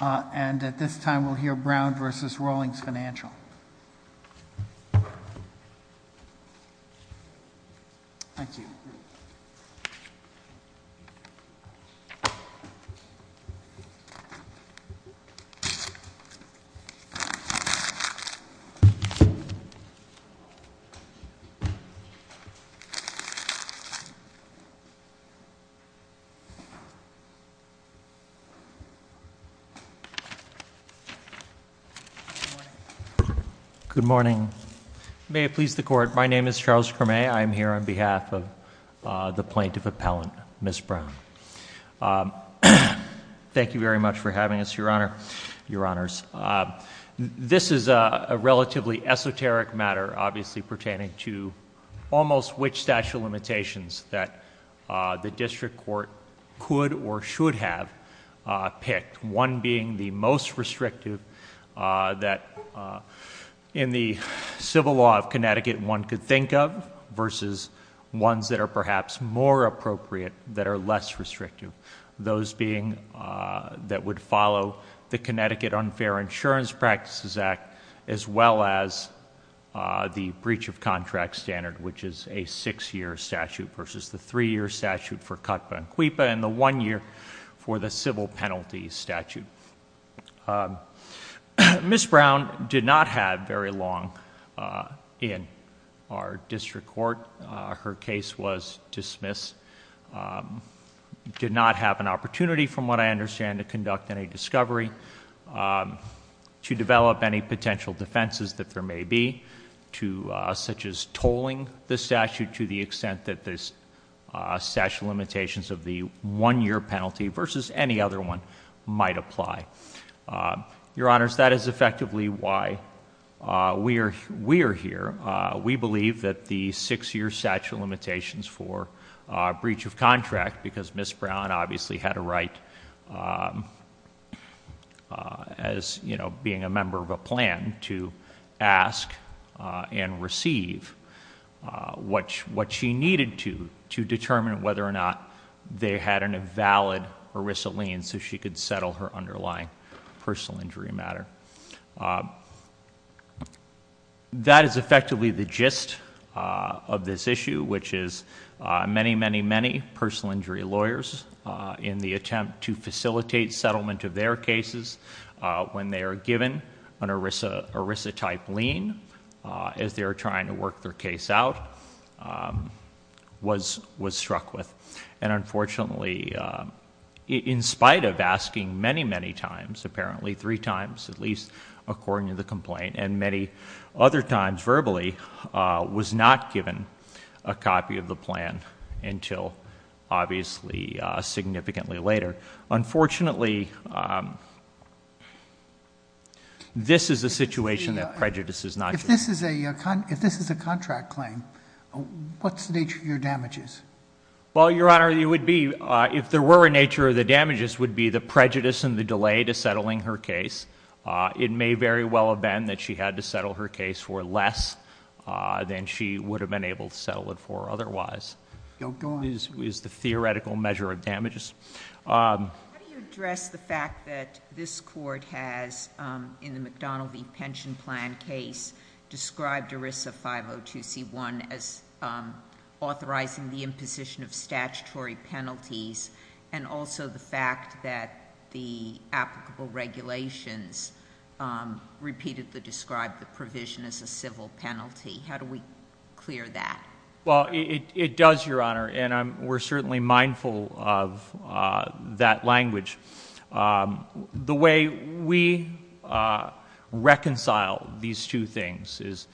And at this time, we'll hear Brown v. Rawlings Financial. Thank you. Good morning. May it please the court, my name is Charles Creme. I'm here on behalf of the plaintiff appellant, Ms. Brown. Thank you very much for having us, your honor, your honors. This is a relatively esoteric matter, obviously pertaining to almost which statute of limitations that the district court could or should have picked, one being the most restrictive that in the civil law of Connecticut one could think of versus ones that are perhaps more appropriate that are less restrictive, those being that would follow the Connecticut Unfair Insurance Practices Act as well as the breach of contract standard, which is a six-year statute versus the three-year statute for CUTPA and CUIPA and the one year for the civil penalty statute. Ms. Brown did not have very long in our district court. Her case was dismissed, did not have an opportunity from what I understand to conduct any discovery, to develop any potential defenses that there may be, such as tolling the statute to the extent that this statute of limitations of the one year penalty versus any other one might apply. Your honors, that is effectively why we are here. We believe that the six year statute of limitations for breach of contract, because Ms. Brown obviously had a right, as being a member of a plan, to ask and receive what she needed to, to determine whether or not they had an invalid ERISA lien so she could settle her underlying personal injury matter. That is effectively the gist of this issue, which is many, many, many personal injury lawyers in the attempt to facilitate settlement of their cases when they are given an ERISA type lien, as they are trying to work their case out, was struck with. And unfortunately, in spite of asking many, many times, apparently three times, at least according to the complaint, and many other times verbally, was not given a copy of the plan until obviously significantly later. Unfortunately, this is a situation that prejudices not just- If this is a contract claim, what's the nature of your damages? Well, Your Honor, it would be, if there were a nature of the damages, would be the prejudice and the delay to settling her case. It may very well have been that she had to settle her case for less than she would have been able to settle it for otherwise. Don't go on. Is the theoretical measure of damages. How do you address the fact that this court has, in the McDonnell v. Pension Plan case, described ERISA 502c1 as authorizing the imposition of statutory penalties, and also the fact that the applicable regulations repeatedly describe the provision as a civil penalty? How do we clear that? Well, it does, Your Honor, and we're certainly mindful of that language. The way we reconcile these two things is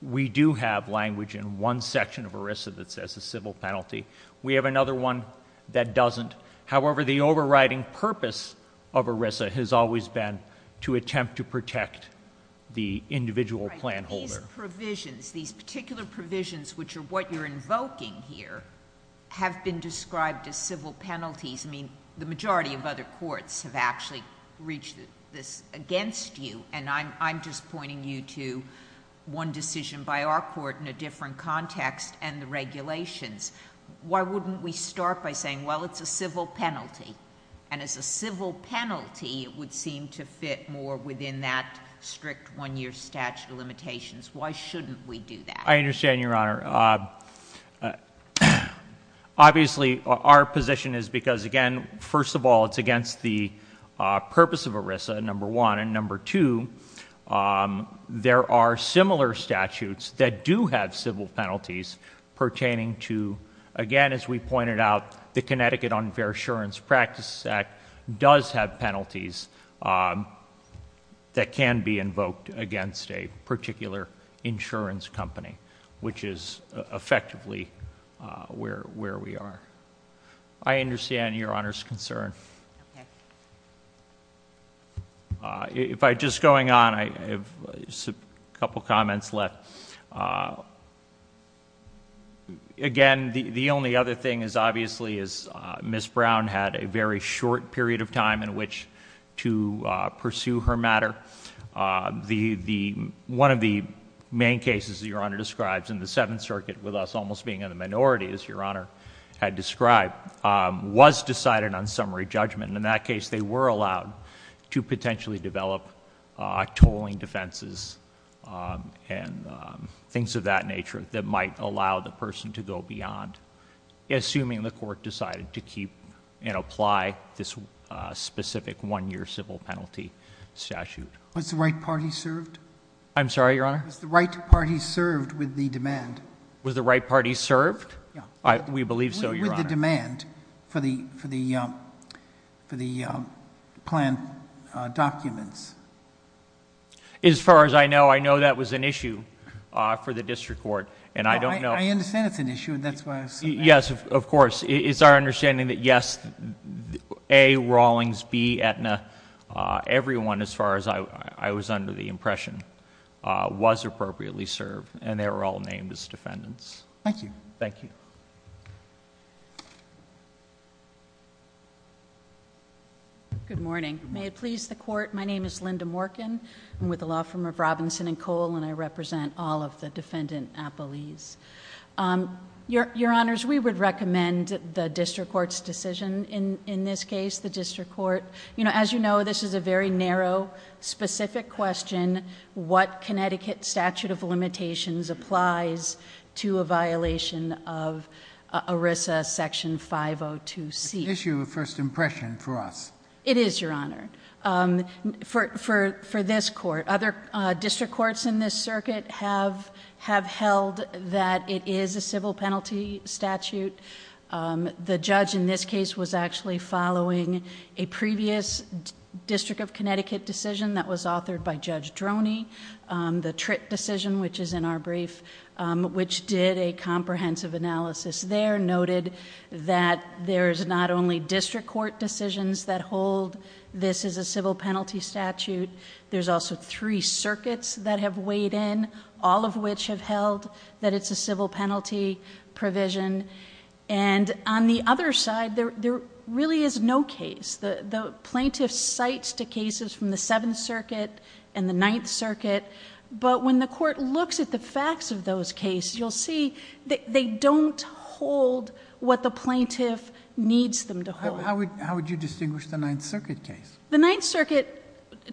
we do have language in one section of ERISA that says a civil penalty. We have another one that doesn't. However, the overriding purpose of ERISA has always been to attempt to protect the individual plan holder. These provisions, these particular provisions, which are what you're invoking here, have been described as civil penalties. I mean, the majority of other courts have actually reached this against you, and I'm just pointing you to one decision by our court in a different context and the regulations. Why wouldn't we start by saying, well, it's a civil penalty, and as a civil penalty it would seem to fit more within that strict one-year statute of limitations. Why shouldn't we do that? I understand, Your Honor. Obviously, our position is because, again, first of all, it's against the purpose of ERISA, number one, and number two, there are similar statutes that do have civil penalties pertaining to, again, as we pointed out, the Connecticut Unfair Assurance Practices Act does have penalties that can be invoked against a particular insurance company, which is effectively where we are. I understand Your Honor's concern. If I just go on, I have a couple of comments left. Again, the only other thing is obviously is Ms. Brown had a very short period of time in which to pursue her matter. One of the main cases that Your Honor describes in the Seventh Circuit, with us almost being in the minority, as Your Honor had described, was decided on summary judgment. In that case, they were allowed to potentially develop tolling defenses and things of that nature that might allow the person to go beyond, assuming the court decided to keep and apply this specific one-year civil penalty statute. Was the right party served? I'm sorry, Your Honor? Was the right party served with the demand? Was the right party served? We believe so, Your Honor. With the demand for the planned documents. As far as I know, I know that was an issue for the district court, and I don't know- I understand it's an issue, and that's why I said that. Yes, of course. It's our understanding that yes, A, Rawlings, B, Aetna, everyone, as far as I was under the impression, was appropriately served, and they were all named as defendants. Thank you. Thank you. Good morning. May it please the Court, my name is Linda Morkin. I'm with the law firm of Robinson and Cole, and I represent all of the defendant appellees. Your Honors, we would recommend the district court's decision in this case. The district court... as you know, this is a very narrow, specific question. What Connecticut statute of limitations applies to a violation of ERISA Section 502C? It's an issue of first impression for us. It is, Your Honor. For this court, other district courts in this circuit have held that it is a civil penalty statute. The judge in this case was actually following a previous District of Connecticut decision that was authored by Judge Droney. The Tritt decision, which is in our brief, which did a comprehensive analysis there, noted that there's not only district court decisions that hold this is a civil penalty statute. There's also three circuits that have weighed in, all of which have held that it's a civil penalty provision. On the other side, there really is no case. The plaintiff cites the cases from the Seventh Circuit and the Ninth Circuit, but when the court looks at the facts of those cases, you'll see they don't hold what the plaintiff needs them to hold. How would you distinguish the Ninth Circuit case? The Ninth Circuit...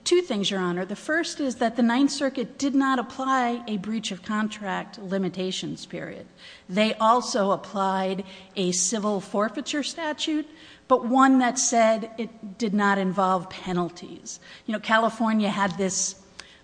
two things, Your Honor. The first is that the Ninth Circuit did not apply a breach of contract limitations period. They also applied a civil forfeiture statute, but one that said it did not involve penalties. California had this,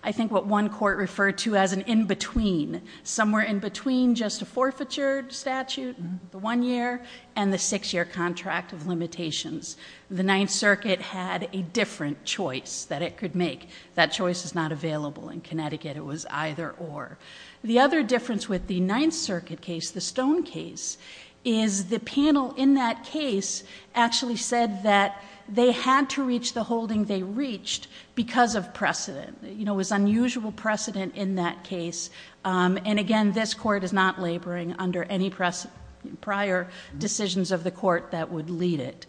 I think what one court referred to as an in-between. Somewhere in between just a forfeiture statute, the one year, and the six year contract of limitations. The Ninth Circuit had a different choice that it could make. That choice is not available in Connecticut. It was either or. The other difference with the Ninth Circuit case, the Stone case, is the panel in that case actually said that they had to reach the holding they reached because of precedent. It was unusual precedent in that case. Again, this court is not laboring under any prior decisions of the court that would lead it.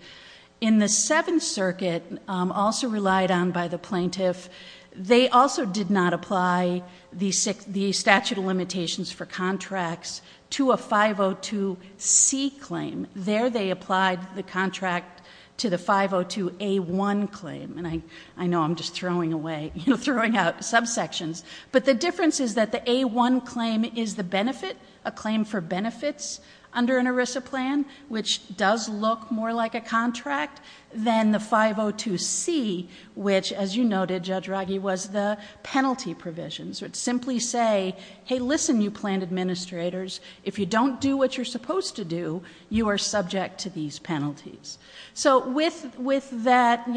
In the Seventh Circuit, also relied on by the plaintiff, they also did not apply the statute of limitations for contracts to a 502C claim. There they applied the contract to the 502A1 claim. And I know I'm just throwing away, throwing out subsections. But the difference is that the A1 claim is the benefit, a claim for benefits under an ERISA plan, which does look more like a contract than the 502C, which as you noted, Judge Raggi, was the penalty provisions. It would simply say, hey, listen, you planned administrators. If you don't do what you're supposed to do, you are subject to these penalties. So with that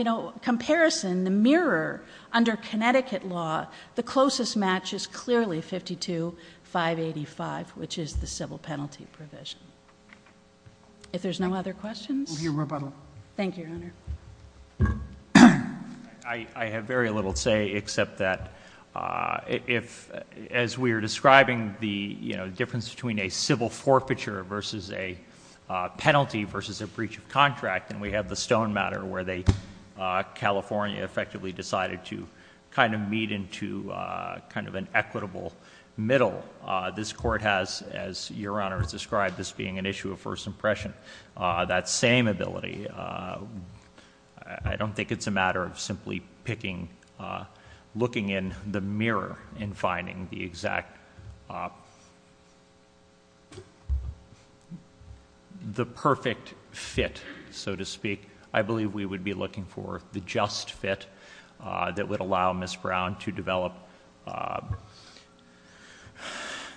comparison, the mirror under Connecticut law, the closest match is clearly 52585, which is the civil penalty provision. If there's no other questions. We'll hear rebuttal. Thank you, Your Honor. I have very little to say except that as we are describing the difference between a civil forfeiture versus a penalty versus a breach of contract, and we have the Stone matter where California effectively decided to kind of meet into kind of an equitable middle. This court has, as Your Honor has described, this being an issue of first impression. We have that same ability. I don't think it's a matter of simply picking, looking in the mirror and finding the exact, the perfect fit, so to speak. I believe we would be looking for the just fit that would allow Ms. Brown to develop,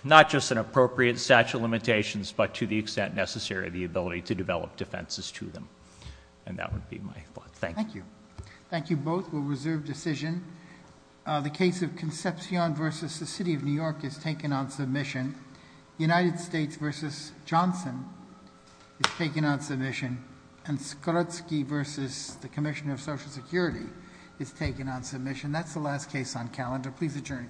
not just an appropriate statute of limitations, but to the extent necessary, the ability to develop defenses to them. And that would be my thought. Thank you. Thank you both. We'll reserve decision. The case of Concepcion versus the City of New York is taken on submission. United States versus Johnson is taken on submission. And Skrutsky versus the Commissioner of Social Security is taken on submission. That's the last case on calendar. Please adjourn in court.